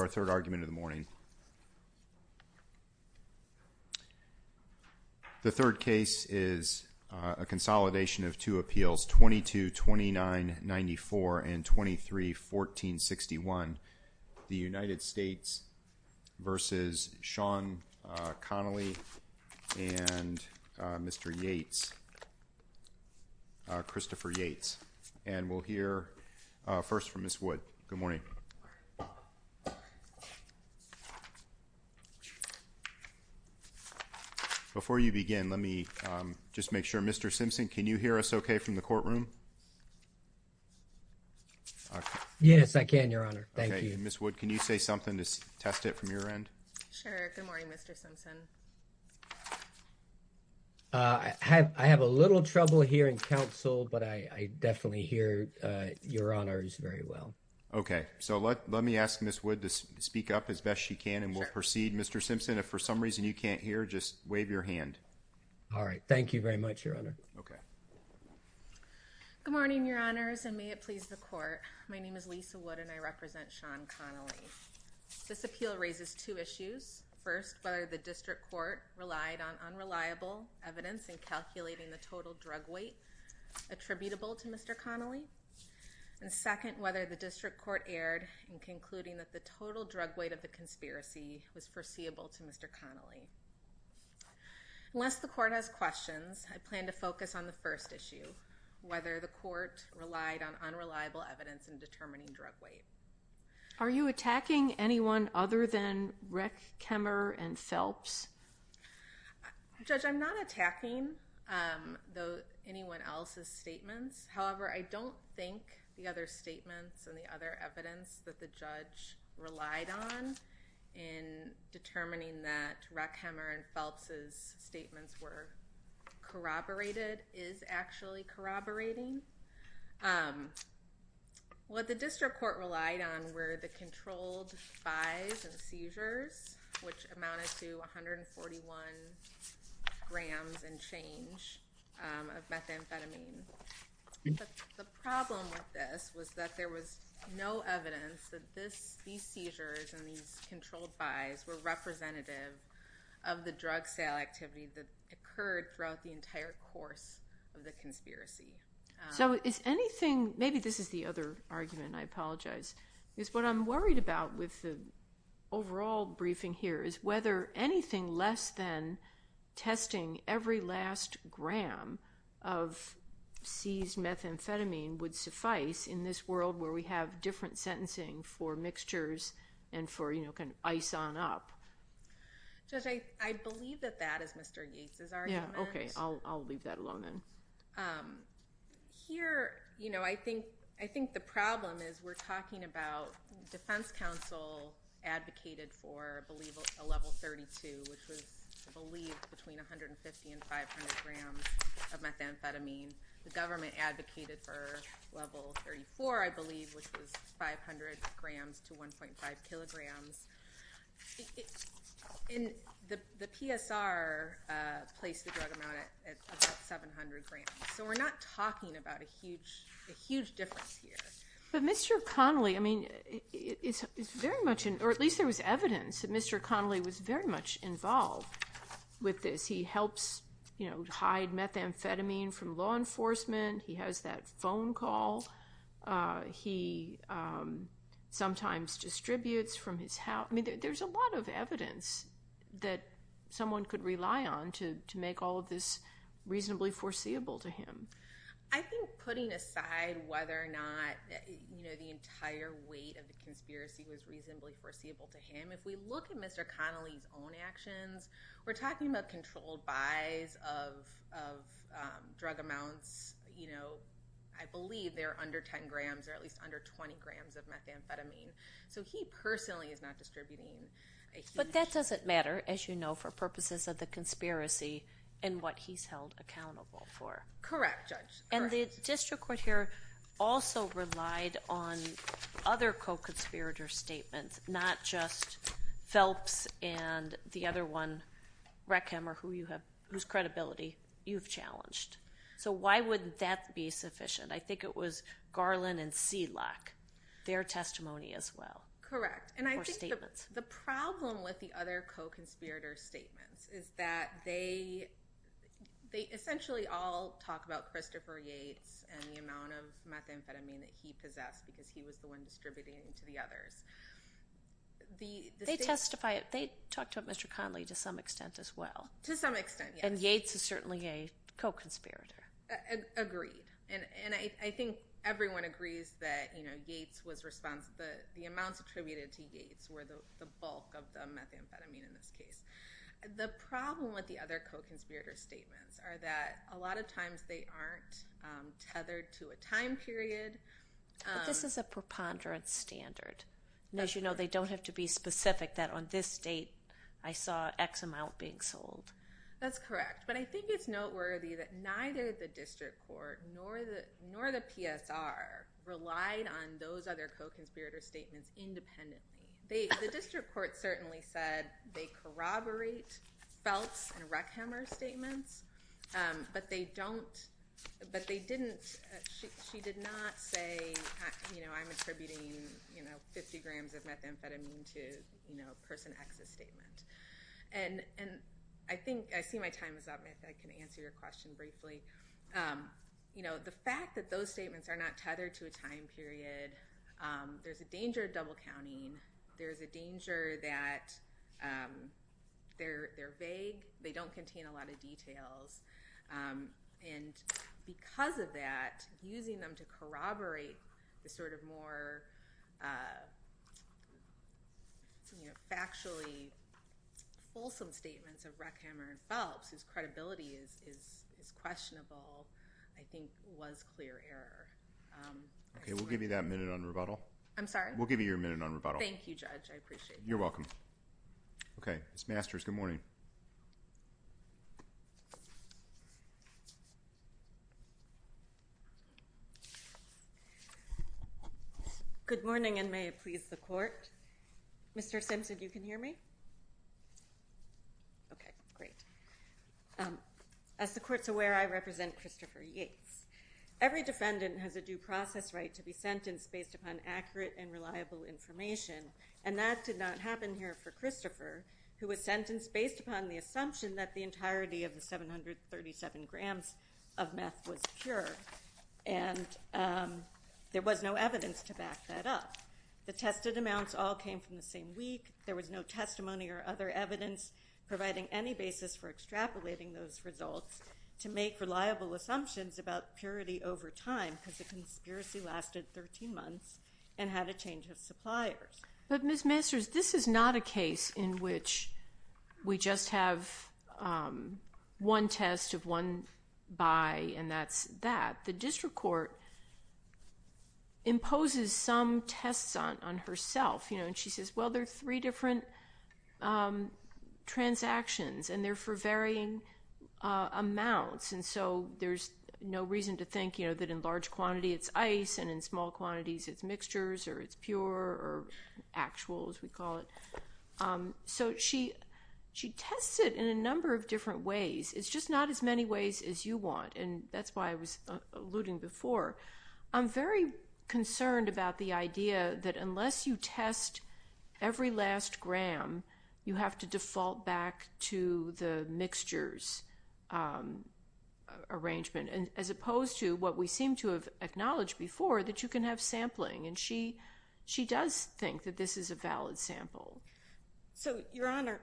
Our third case is a consolidation of two appeals, 22-29-94 and 23-14-61, the United States v. Sean Connolly and Christopher Yates. Mr. Simpson, can you hear us okay from the courtroom? Yes, I can, Your Honor. Thank you. Ms. Wood, can you say something to test it from your end? Sure. Good morning, Mr. Simpson. I have a little trouble hearing counsel, but I definitely hear Your Honor's very well. Okay, so let me ask Ms. Wood to speak up as best she can and we'll proceed. Mr. Simpson, if for some reason you can't hear, just wave your hand. All right. Thank you very much, Your Honor. Okay. Good morning, Your Honors, and may it please the Court. My name is Lisa Wood and I represent Sean Connolly. This appeal raises two issues. First, whether the District Court relied on unreliable evidence in calculating the total drug weight attributable to Mr. Connolly. And second, whether the District Court erred in concluding that the total drug weight of the conspiracy was foreseeable to Mr. Connolly. Unless the Court has questions, I plan to focus on the first issue, whether the Court relied on unreliable evidence in determining drug weight. Are you attacking anyone other than Reckheimer and Phelps? Judge, I'm not attacking anyone else's statements. However, I don't think the other statements and the other evidence that the judge relied on in determining that Reckheimer and Phelps' statements were corroborated is actually corroborating. What the District Court relied on were the controlled buys and seizures, which amounted to 141 grams and change of methamphetamine. But the problem with this was that there was no evidence that these seizures and these controlled buys were representative of the drug sale activity that occurred throughout the entire course of the conspiracy. So is anything, maybe this is the other argument, I apologize, is what I'm worried about with the overall briefing here is whether anything less than testing every last gram of seized methamphetamine would suffice in this world where we have different sentencing for mixtures and for, you know, can ice on up. Judge, I believe that that is Mr. Yates' argument. Yeah, okay. I'll leave that alone then. Here, you know, I think the problem is we're talking about defense counsel advocated for, I believe, a level 32, which was, I believe, between 150 and 500 grams of methamphetamine. The government advocated for level 34, I believe, which was 500 grams to 1.5 kilograms. And the PSR placed the drug amount at about 700 grams. So we're not talking about a huge difference here. But Mr. Connolly, I mean, it's very much, or at least there was evidence that Mr. Connolly was very much involved with this. He helps, you know, hide methamphetamine from law enforcement. He has that phone call. He sometimes distributes from his house. I mean, there's a lot of evidence that someone could rely on to make all of this reasonably foreseeable to him. I think putting aside whether or not, you know, the entire weight of the conspiracy was reasonably foreseeable to him, if we look at Mr. Connolly's own actions, we're talking about controlled buys of drug amounts, you know, I believe they're under 10 grams or at least under 20 grams of methamphetamine. So he personally is not distributing a huge amount. But that doesn't matter, as you know, for purposes of the conspiracy and what he's held accountable for. Correct, Judge. Correct. And the district court here also relied on other co-conspirator statements, not just one wreck him or whose credibility you've challenged. So why wouldn't that be sufficient? I think it was Garland and Sealock, their testimony as well. Correct. Or statements. The problem with the other co-conspirator statements is that they essentially all talk about Christopher Yates and the amount of methamphetamine that he possessed because he was the one distributing it to the others. They testify, they talked about Mr. Connolly to some extent as well. To some extent, yes. And Yates is certainly a co-conspirator. Agreed. And I think everyone agrees that, you know, Yates was responsible, the amounts attributed to Yates were the bulk of the methamphetamine in this case. The problem with the other co-conspirator statements are that a lot of times they aren't tethered to a time period. But this is a preponderance standard. As you know, they don't have to be specific that on this date I saw X amount being sold. That's correct. But I think it's noteworthy that neither the district court nor the PSR relied on those other co-conspirator statements independently. The district court certainly said they corroborate Feltz and Reckhammer's statements, but they didn't, she did not say, you know, I'm attributing, you know, 50 grams of methamphetamine to, you know, person X's statement. And I think, I see my time is up, if I can answer your question briefly. You know, the fact that those statements are not tethered to a time period, there's a danger of double counting. There's a danger that they're vague. They don't contain a lot of details. And because of that, using them to corroborate the sort of more, you know, factually wholesome statements of Reckhammer and Feltz, whose credibility is questionable, I think was clear error. Okay. We'll give you that minute on rebuttal. I'm sorry? We'll give you your minute on rebuttal. Thank you, Judge. I appreciate that. You're welcome. Okay. Ms. Masters, good morning. Good morning, and may it please the Court. Mr. Simpson, you can hear me? Okay. Great. As the Court's aware, I represent Christopher Yates. Every defendant has a due process right to be sentenced based upon accurate and reliable information, and that did not happen here for Christopher, who was sentenced based upon the assumption that the entirety of the 737 grams of meth was pure. And there was no evidence to back that up. The tested amounts all came from the same week. There was no testimony or other evidence providing any basis for extrapolating those results to make reliable assumptions about purity over time, because the conspiracy lasted 13 months and had a change of suppliers. But Ms. Masters, this is not a case in which we just have one test of one by and that's that. The district court imposes some tests on herself. And she says, well, there are three different transactions, and they're for varying amounts, and so there's no reason to think that in large quantities it's ice and in small quantities it's mixtures or it's pure or actual, as we call it. So she tests it in a number of different ways. It's just not as many ways as you want, and that's why I was alluding before. I'm very concerned about the idea that unless you test every last gram, you have to default back to the mixtures arrangement, as opposed to what we seem to have acknowledged before, that you can have sampling. And she does think that this is a valid sample. So, Your Honor,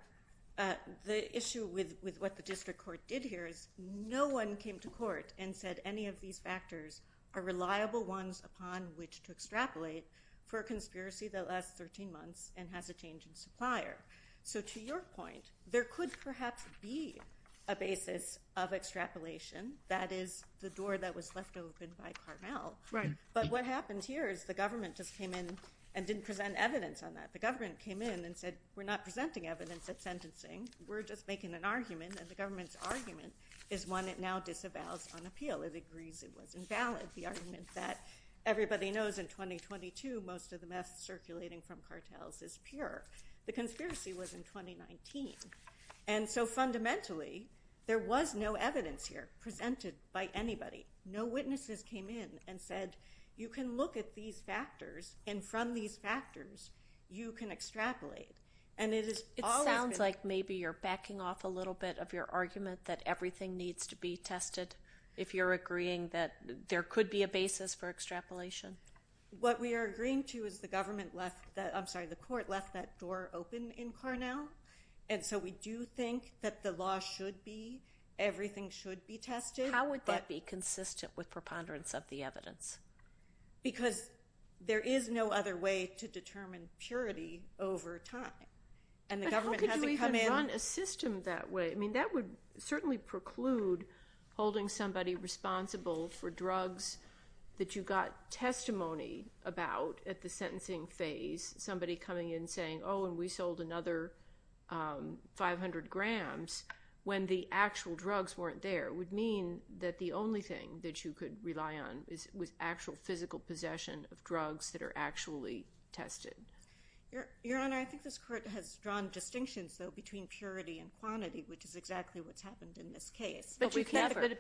the issue with what the district court did here is no one came to court and said any of these factors are reliable ones upon which to extrapolate for a conspiracy that lasts 13 months and has a change in supplier. So to your point, there could perhaps be a basis of extrapolation. That is the door that was left open by Carmel. But what happens here is the government just came in and didn't present evidence on that. The government came in and said we're not presenting evidence at sentencing. We're just making an argument, and the government's argument is one it now disavows on appeal. It agrees it was invalid, the argument that everybody knows in 2022 most of the mess circulating from cartels is pure. The conspiracy was in 2019. And so fundamentally there was no evidence here presented by anybody. No witnesses came in and said you can look at these factors, and from these factors you can extrapolate. It sounds like maybe you're backing off a little bit of your argument that everything needs to be tested if you're agreeing that there could be a basis for extrapolation. What we are agreeing to is the court left that door open in Carmel. And so we do think that the law should be, everything should be tested. How would that be consistent with preponderance of the evidence? Because there is no other way to determine purity over time. But how could you even run a system that way? That would certainly preclude holding somebody responsible for drugs that you got testimony about at the sentencing phase. Somebody coming in saying, oh, and we sold another 500 grams when the actual drugs weren't there. It would mean that the only thing that you could rely on was actual physical possession of drugs that are actually tested. Your Honor, I think this court has drawn distinctions, though, between purity and quantity, which is exactly what's happened in this case. But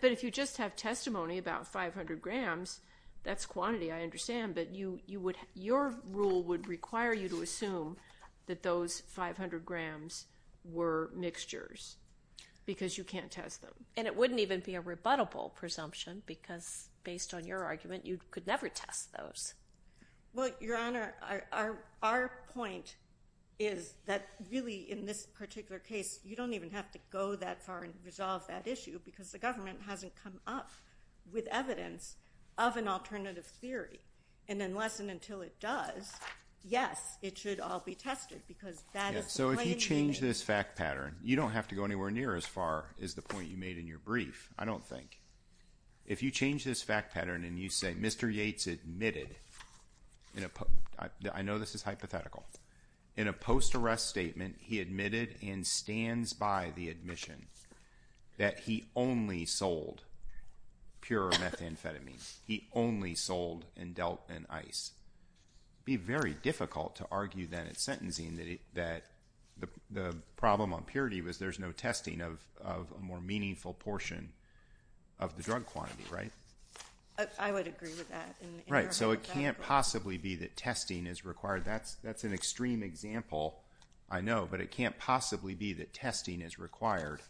if you just have testimony about 500 grams, that's quantity, I understand. But your rule would require you to assume that those 500 grams were mixtures because you can't test them. And it wouldn't even be a rebuttable presumption because, based on your argument, you could never test those. Well, Your Honor, our point is that really in this particular case, you don't even have to go that far and resolve that issue because the government hasn't come up with evidence of an alternative theory. And unless and until it does, yes, it should all be tested because that is the plain language. So if you change this fact pattern, you don't have to go anywhere near as far as the point you made in your brief, I don't think. If you change this fact pattern and you say Mr. Yates admitted, I know this is hypothetical, in a post-arrest statement, he admitted and stands by the admission that he only sold pure methamphetamine. He only sold and dealt in ice. It would be very difficult to argue then in sentencing that the problem on purity was there's no testing of a more meaningful portion of the drug quantity, right? I would agree with that. Right. So it can't possibly be that testing is required. That's an extreme example, I know. But it can't possibly be that testing is required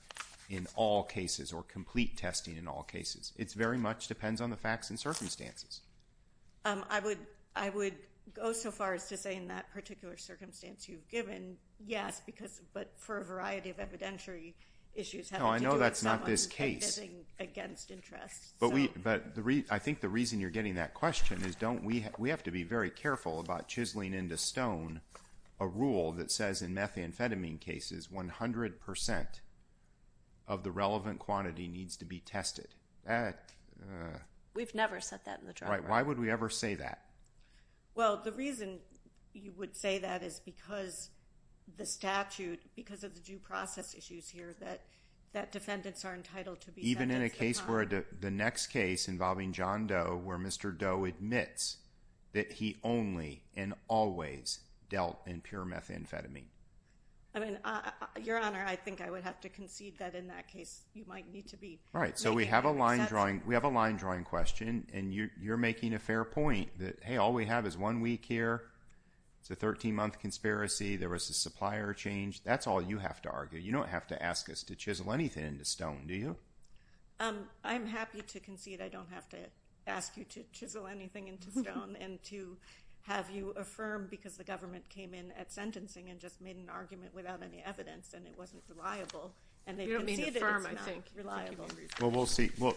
in all cases or complete testing in all cases. It very much depends on the facts and circumstances. I would go so far as to say in that particular circumstance you've given, yes, but for a variety of evidentiary issues. No, I know that's not this case. Against interest. But I think the reason you're getting that question is we have to be very careful about chiseling into stone a rule that says in methamphetamine cases 100% of the relevant quantity needs to be tested. We've never said that in the drug court. Right. Why would we ever say that? Well, the reason you would say that is because the statute, because of the due process issues here, that defendants are entitled to be sentenced. Even in a case where the next case involving John Doe where Mr. Doe admits that he only and always dealt in pure methamphetamine. Your Honor, I think I would have to concede that in that case you might need to be Right. So we have a line drawing question and you're making a fair point that, hey, all we have is one week here. It's a 13-month conspiracy. There was a supplier change. That's all you have to argue. You don't have to ask us to chisel anything into stone, do you? And to have you affirm because the government came in at sentencing and just made an argument without any evidence and it wasn't reliable. You don't mean affirm, I think. Reliable. Well, we'll see. We'll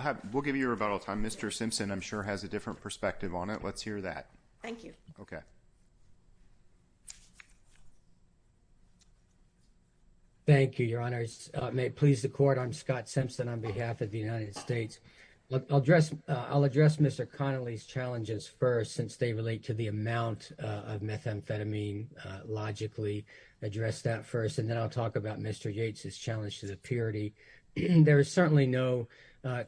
give you your rebuttal time. Mr. Simpson, I'm sure, has a different perspective on it. Let's hear that. Thank you. Okay. Thank you, Your Honors. May it please the Court, I'm Scott Simpson on behalf of the United States. I'll address Mr. Connolly's challenges first since they relate to the amount of methamphetamine. Logically address that first and then I'll talk about Mr. Yates' challenge to the purity. There is certainly no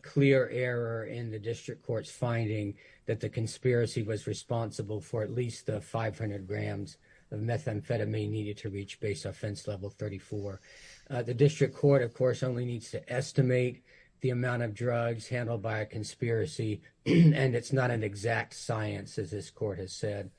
clear error in the district court's finding that the conspiracy was responsible for at least 500 grams of methamphetamine needed to reach base offense level 34. The district court, of course, only needs to estimate the amount of drugs handled by a conspiracy. And it's not an exact science as this court has said.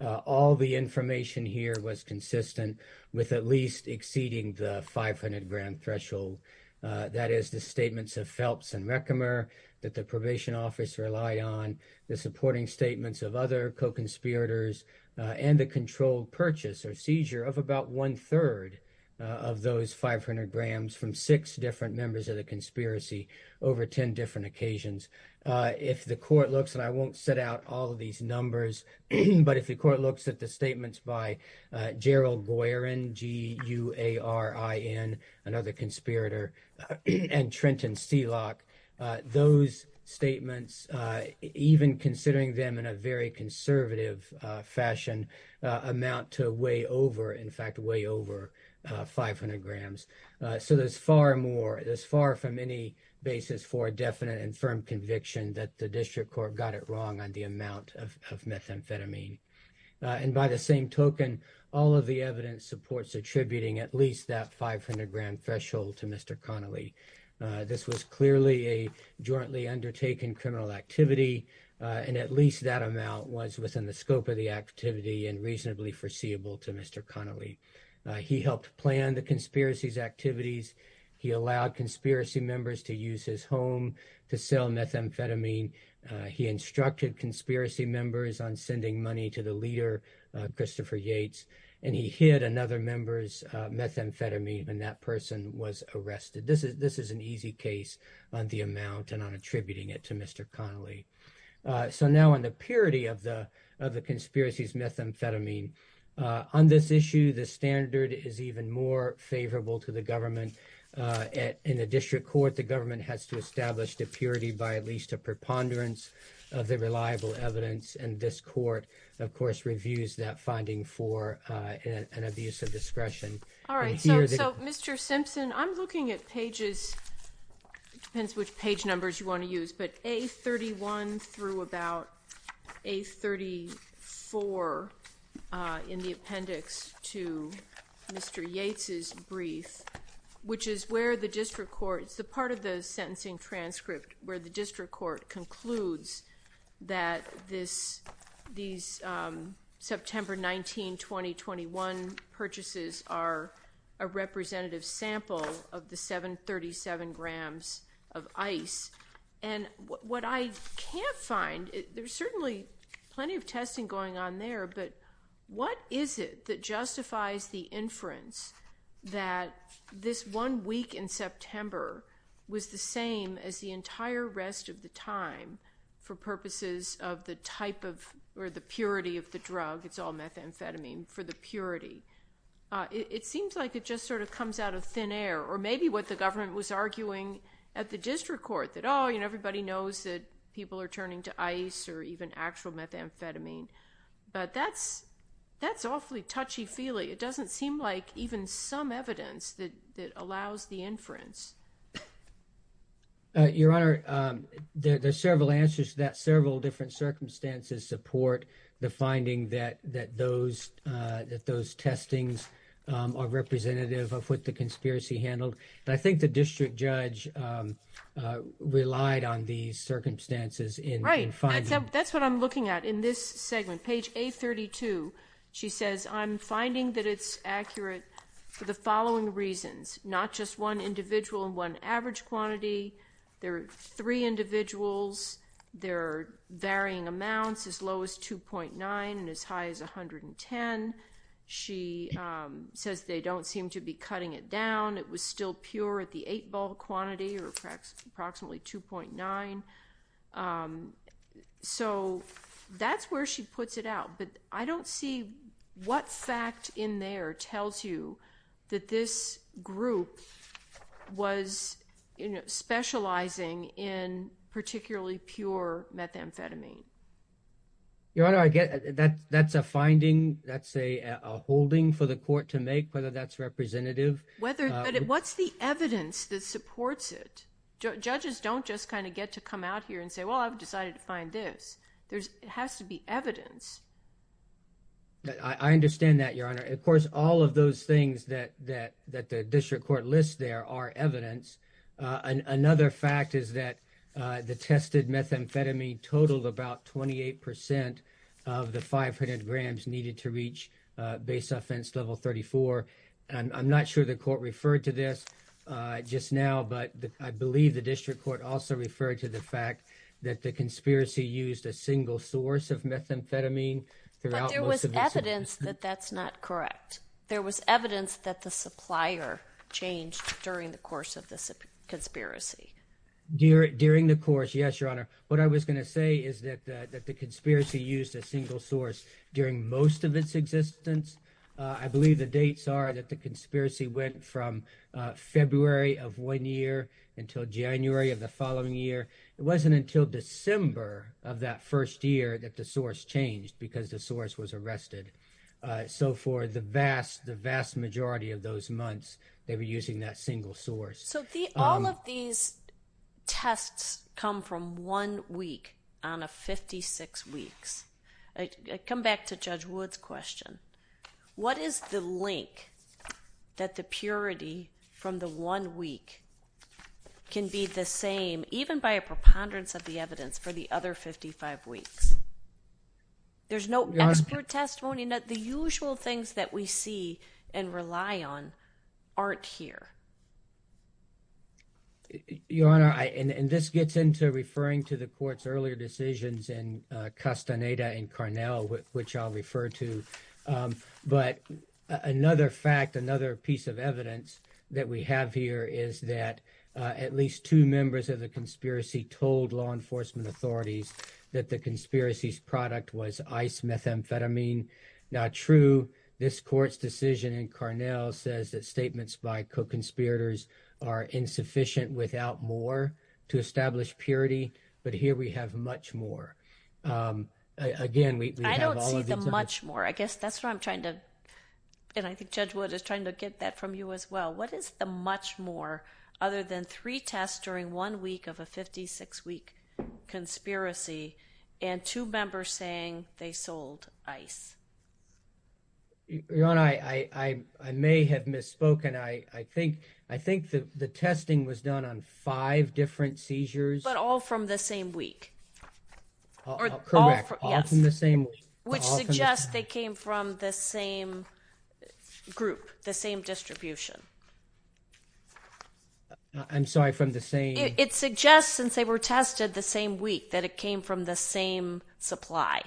All the information here was consistent with at least exceeding the 500 grand threshold. That is the statements of Phelps and Reckemer that the probation office rely on. The supporting statements of other co-conspirators and the controlled purchase or seizure of about one-third of those 500 grams from six different members of the conspiracy over 10 different occasions. If the court looks, and I won't set out all of these numbers, but if the court looks at the statements by Gerald Boyarin, G-U-A-R-I-N, another conspirator, and Trenton Seelock, those statements, even considering them in a very conservative fashion, amount to way over, in fact, way over 500 grams. So there's far more, there's far from any basis for a definite and firm conviction that the district court got it wrong on the amount of methamphetamine. And by the same token, all of the evidence supports attributing at least that 500 grand threshold to Mr. Connolly. This was clearly a jointly undertaken criminal activity, and at least that amount was within the scope of the activity and reasonably foreseeable to Mr. Connolly. He helped plan the conspiracy's activities. He allowed conspiracy members to use his home to sell methamphetamine. He instructed conspiracy members on sending money to the leader, Christopher Yates, and he hid another member's methamphetamine, and that person was arrested. This is an easy case on the amount and on attributing it to Mr. Connolly. So now on the purity of the conspiracy's methamphetamine. On this issue, the standard is even more favorable to the government. In the district court, the government has to establish the purity by at least a preponderance of the reliable evidence, and this court, of course, reviews that finding for an abuse of discretion. All right, so Mr. Simpson, I'm looking at pages, depends which page numbers you want to use, but A31 through about A34 in the appendix to Mr. Yates' brief, which is where the district court, it's the part of the sentencing transcript where the district court concludes that this, these September 19, 2021 purchases are a representative sample of the 737 grams of ice, and what I can't find, there's certainly plenty of testing going on there, but what is it that justifies the inference that this one week in September was the same as the entire rest of the time for purposes of the type of, or the purity of the drug, it's all methamphetamine, for the purity? It seems like it just sort of comes out of thin air, or maybe what the district court, that, oh, everybody knows that people are turning to ice or even actual methamphetamine, but that's awfully touchy-feely. It doesn't seem like even some evidence that allows the inference. Your Honor, there's several answers to that. Several different circumstances support the finding that those testings are representative of what the conspiracy handled, but I think the district judge relied on these circumstances in finding... Right. That's what I'm looking at in this segment. Page A32, she says, I'm finding that it's accurate for the following reasons, not just one individual and one average quantity. There are three individuals. There are varying amounts, as low as 2.9 and as high as 110. She says they don't seem to be cutting it down. It was still pure at the eight ball quantity or approximately 2.9. That's where she puts it out, but I don't see what fact in there tells you that this group was specializing in particularly pure methamphetamine. Your Honor, that's a finding, that's a holding for the court to make, whether that's representative... What's the evidence that supports it? Judges don't just kind of get to come out here and say, well, I've decided to find this. There has to be evidence. I understand that, Your Honor. Of course, all of those things that the district court lists there are evidence. Another fact is that the tested methamphetamine totaled about 28% of the I'm not sure the court referred to this just now, but I believe the district court also referred to the fact that the conspiracy used a single source of methamphetamine throughout most of its... But there was evidence that that's not correct. There was evidence that the supplier changed during the course of the conspiracy. During the course, yes, Your Honor. What I was going to say is that the conspiracy used a single source during most of its existence. I believe the dates are that the conspiracy went from February of one year until January of the following year. It wasn't until December of that first year that the source changed because the source was arrested. So for the vast, the vast majority of those months, they were using that single source. So all of these tests come from one week out of 56 weeks. Come back to Judge Wood's question. What is the link that the purity from the one week can be the same even by a preponderance of the evidence for the other 55 weeks? There's no expert testimony. The usual things that we see and rely on aren't here. Your Honor, and this gets into referring to the court's earlier decisions in Castaneda and Carnell, which I'll refer to. But another fact, another piece of evidence that we have here is that at least two members of the conspiracy told law enforcement authorities that the conspiracy's product was ice methamphetamine. Now true, this court's decision in Carnell says that statements by co-conspirators are insufficient without more to establish purity. But here we have much more. Again, we have all of these- I don't see the much more. I guess that's what I'm trying to, and I think Judge Wood is trying to get that from you as well. What is the much more other than three tests during one week of a 56-week conspiracy and two members saying they sold ice? Your Honor, I may have misspoken. I think the testing was done on five different seizures. But all from the same week. Correct, all from the same week. Which suggests they came from the same group, the same distribution. I'm sorry, from the same- It suggests since they were tested the same week that it came from the same supply.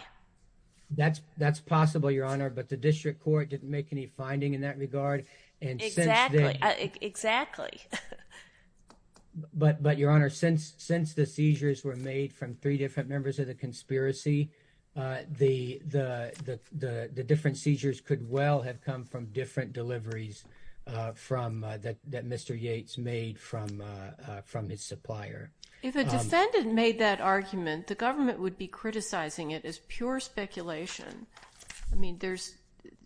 That's possible, Your Honor, but the district court didn't make any finding in that regard. Exactly. But, Your Honor, since the seizures were made from three different members of the conspiracy, the different seizures could well have come from different deliveries that Mr. Yates made from his supplier. If a defendant made that argument, the government would be criticizing it as pure speculation.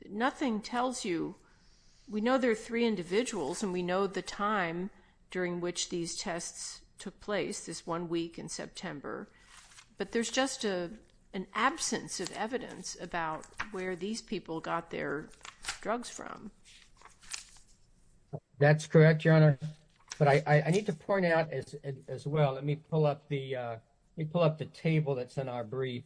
Nothing tells you. We know there are three individuals and we know the time during which these tests took place, this one week in September. But there's just an absence of evidence about where these people got their drugs from. That's correct, Your Honor. But I need to point out as well, let me pull up the table that's in our brief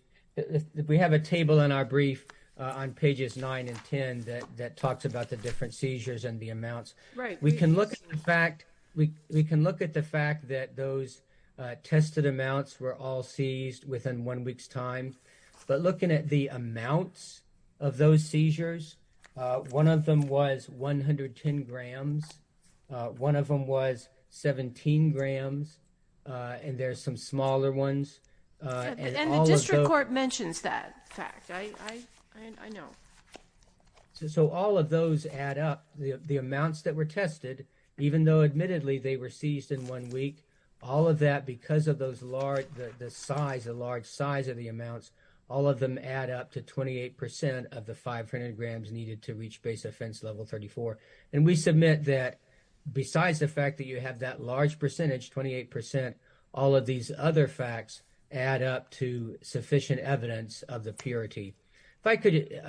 on pages 9 and 10 that talks about the different seizures and the amounts. Right. We can look at the fact that those tested amounts were all seized within one week's time. But looking at the amounts of those seizures, one of them was 110 grams, one of them was 17 grams, and there's some smaller ones. And the district court mentions that fact. I know. So all of those add up, the amounts that were tested, even though admittedly they were seized in one week, all of that because of the large size of the amounts, all of them add up to 28% of the 500 grams needed to reach base offense level 34. And we submit that besides the fact that you have that large percentage, 28%, all of these other facts add up to sufficient evidence of the purity. If I could,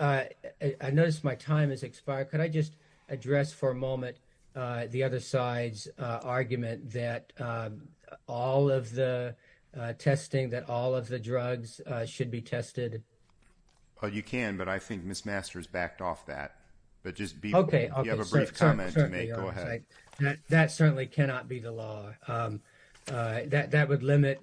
I notice my time has expired. Could I just address for a moment the other side's argument that all of the testing, that all of the drugs should be tested? You can, but I think Ms. Masters backed off that. Okay. You have a brief comment to make. Go ahead. That certainly cannot be the law. That would limit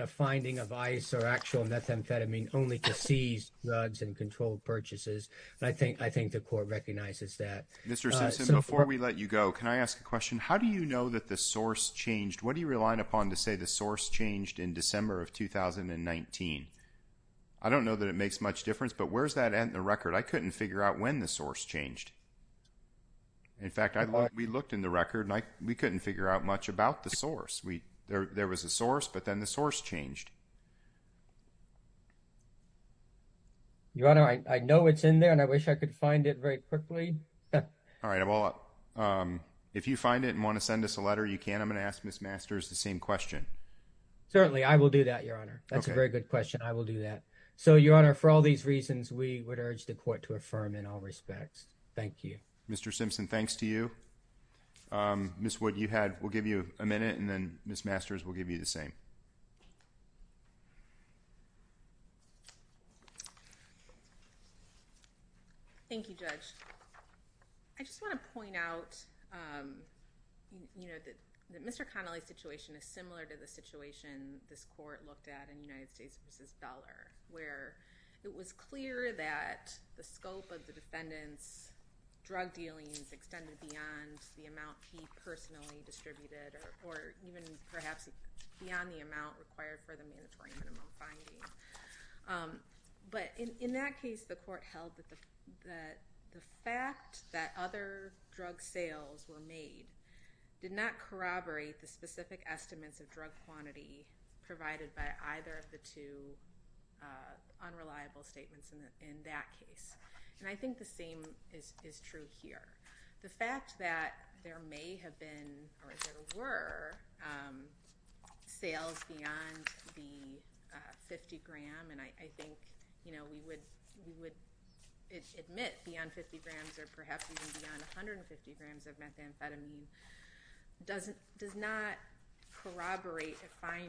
a finding of ice or actual methamphetamine only to seize drugs and controlled purchases. I think the court recognizes that. Mr. Simpson, before we let you go, can I ask a question? How do you know that the source changed? What do you rely upon to say the source changed in December of 2019? I don't know that it makes much difference, but where does that end the record? I couldn't figure out when the source changed. In fact, we looked in the record, and we couldn't figure out much about the source. There was a source, but then the source changed. Your Honor, I know it's in there, and I wish I could find it very quickly. All right. If you find it and want to send us a letter, you can. I'm going to ask Ms. Masters the same question. Certainly, I will do that, Your Honor. That's a very good question. I will do that. Your Honor, for all these reasons, we would urge the court to affirm in all respects. Thank you. Mr. Simpson, thanks to you. Ms. Wood, we'll give you a minute, and then Ms. Masters will give you the same. Thank you, Judge. I just want to point out that Mr. Connolly's situation is similar to the situation this court looked at in United States v. Dollar, where it was clear that the scope of the defendant's drug dealings extended beyond the amount he personally distributed or even perhaps beyond the amount required for the mandatory minimum finding. In that case, the court held that the fact that other drug sales were made did not corroborate the specific estimates of drug quantity provided by either of the two unreliable statements in that case. I think the same is true here. The fact that there may have been or there were sales beyond the 50-gram, and I think we would admit beyond 50 grams or perhaps even beyond 150 grams of drug. The fact that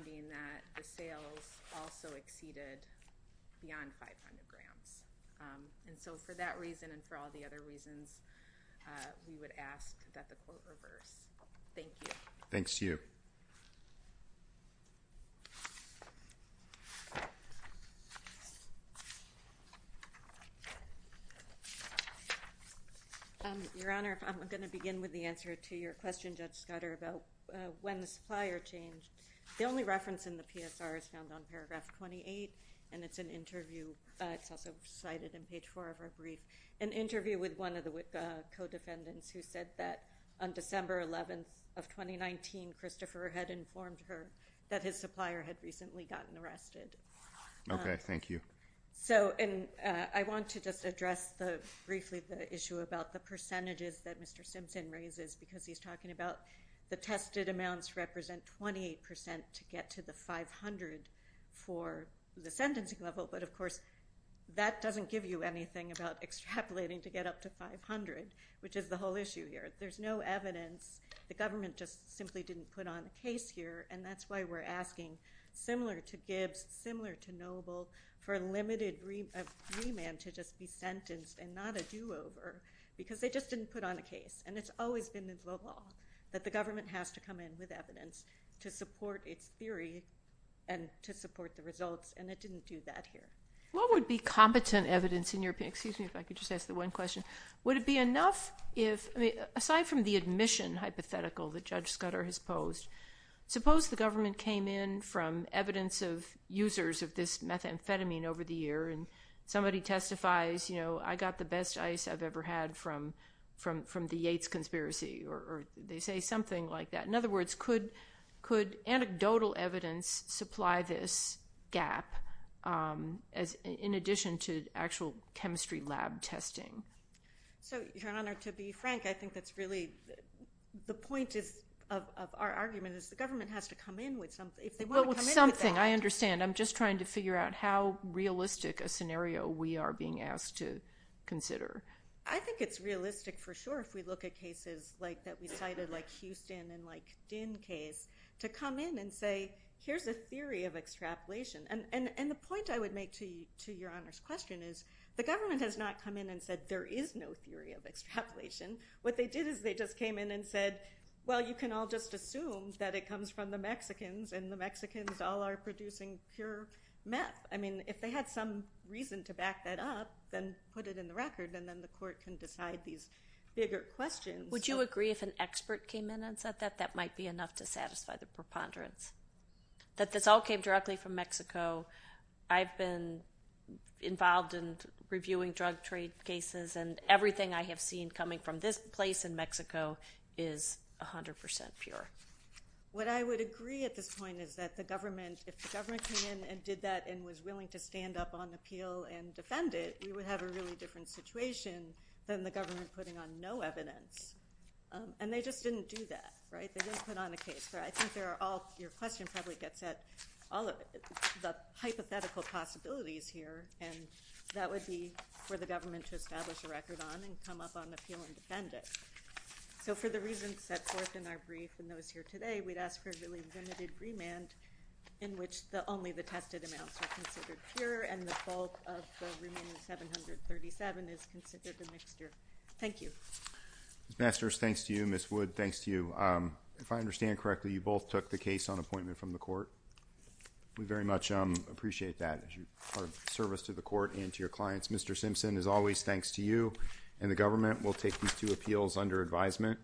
there were sales also exceeded beyond 500 grams. For that reason and for all the other reasons, we would ask that the court reverse. Thank you. Thanks to you. Your Honor, I'm going to begin with the answer to your question, Judge Scudder, about when the supplier changed. The only reference in the PSR is found on paragraph 28, and it's an interview. It's also cited in page 4 of our brief, an interview with one of the co-defendants who said that on December 11th of 2019, Christopher had informed her that his supplier had recently gotten arrested. Okay. Thank you. I want to just address briefly the issue about the percentages that Mr. Simpson raises because he's talking about the tested amounts represent 28% to get to the 500 for the sentencing level, but of course, that doesn't give you anything about extrapolating to get up to 500, which is the whole issue here. There's no evidence. The government just simply didn't put on a case here, and that's why we're asking, similar to Gibbs, similar to Noble, for a limited remand to just be sentenced and not a do-over because they just didn't put on a case, and it's always been involved that the government has to come in with evidence to support its theory and to support the results, and it didn't do that here. What would be competent evidence in your opinion? Excuse me if I could just ask the one question. Would it be enough if, aside from the admission hypothetical that Judge Scudder has posed, suppose the government came in from evidence of users of this methamphetamine over the year, and somebody testifies, you know, I got the best ice I've ever had from the Yates conspiracy, or they say something like that? In other words, could anecdotal evidence supply this gap in addition to actual chemistry lab testing? So, Your Honor, to be frank, I think that's really the point of our argument is the government has to come in with something. If they want to come in with that. Well, with something, I understand. I'm just trying to figure out how realistic a scenario we are being asked to consider. I think it's realistic for sure if we look at cases like that we cited, like Houston and like Dinn case, to come in and say here's a theory of extrapolation. And the point I would make to Your Honor's question is the government has not come in and said there is no theory of extrapolation. What they did is they just came in and said, well, you can all just assume that it comes from the Mexicans, and the Mexicans all are producing pure meth. I mean, if they had some reason to back that up, then put it in the court, and then the court can decide these bigger questions. Would you agree if an expert came in and said that that might be enough to satisfy the preponderance? That this all came directly from Mexico. I've been involved in reviewing drug trade cases, and everything I have seen coming from this place in Mexico is 100% pure. What I would agree at this point is that the government, if the government came in and did that and was willing to stand up on appeal and defend it, we would have a really different situation than the government putting on no evidence. And they just didn't do that, right? They didn't put on a case. I think your question probably gets at all of the hypothetical possibilities here, and that would be for the government to establish a record on and come up on appeal and defend it. So for the reasons set forth in our brief and those here today, we'd ask for a really limited remand in which only the tested amounts are considered pure and the bulk of the remaining 737 is considered the mixture. Thank you. Ms. Masters, thanks to you. Ms. Wood, thanks to you. If I understand correctly, you both took the case on appointment from the court. We very much appreciate that as part of service to the court and to your clients. Mr. Simpson, as always, thanks to you. And the government will take these two appeals under advisement.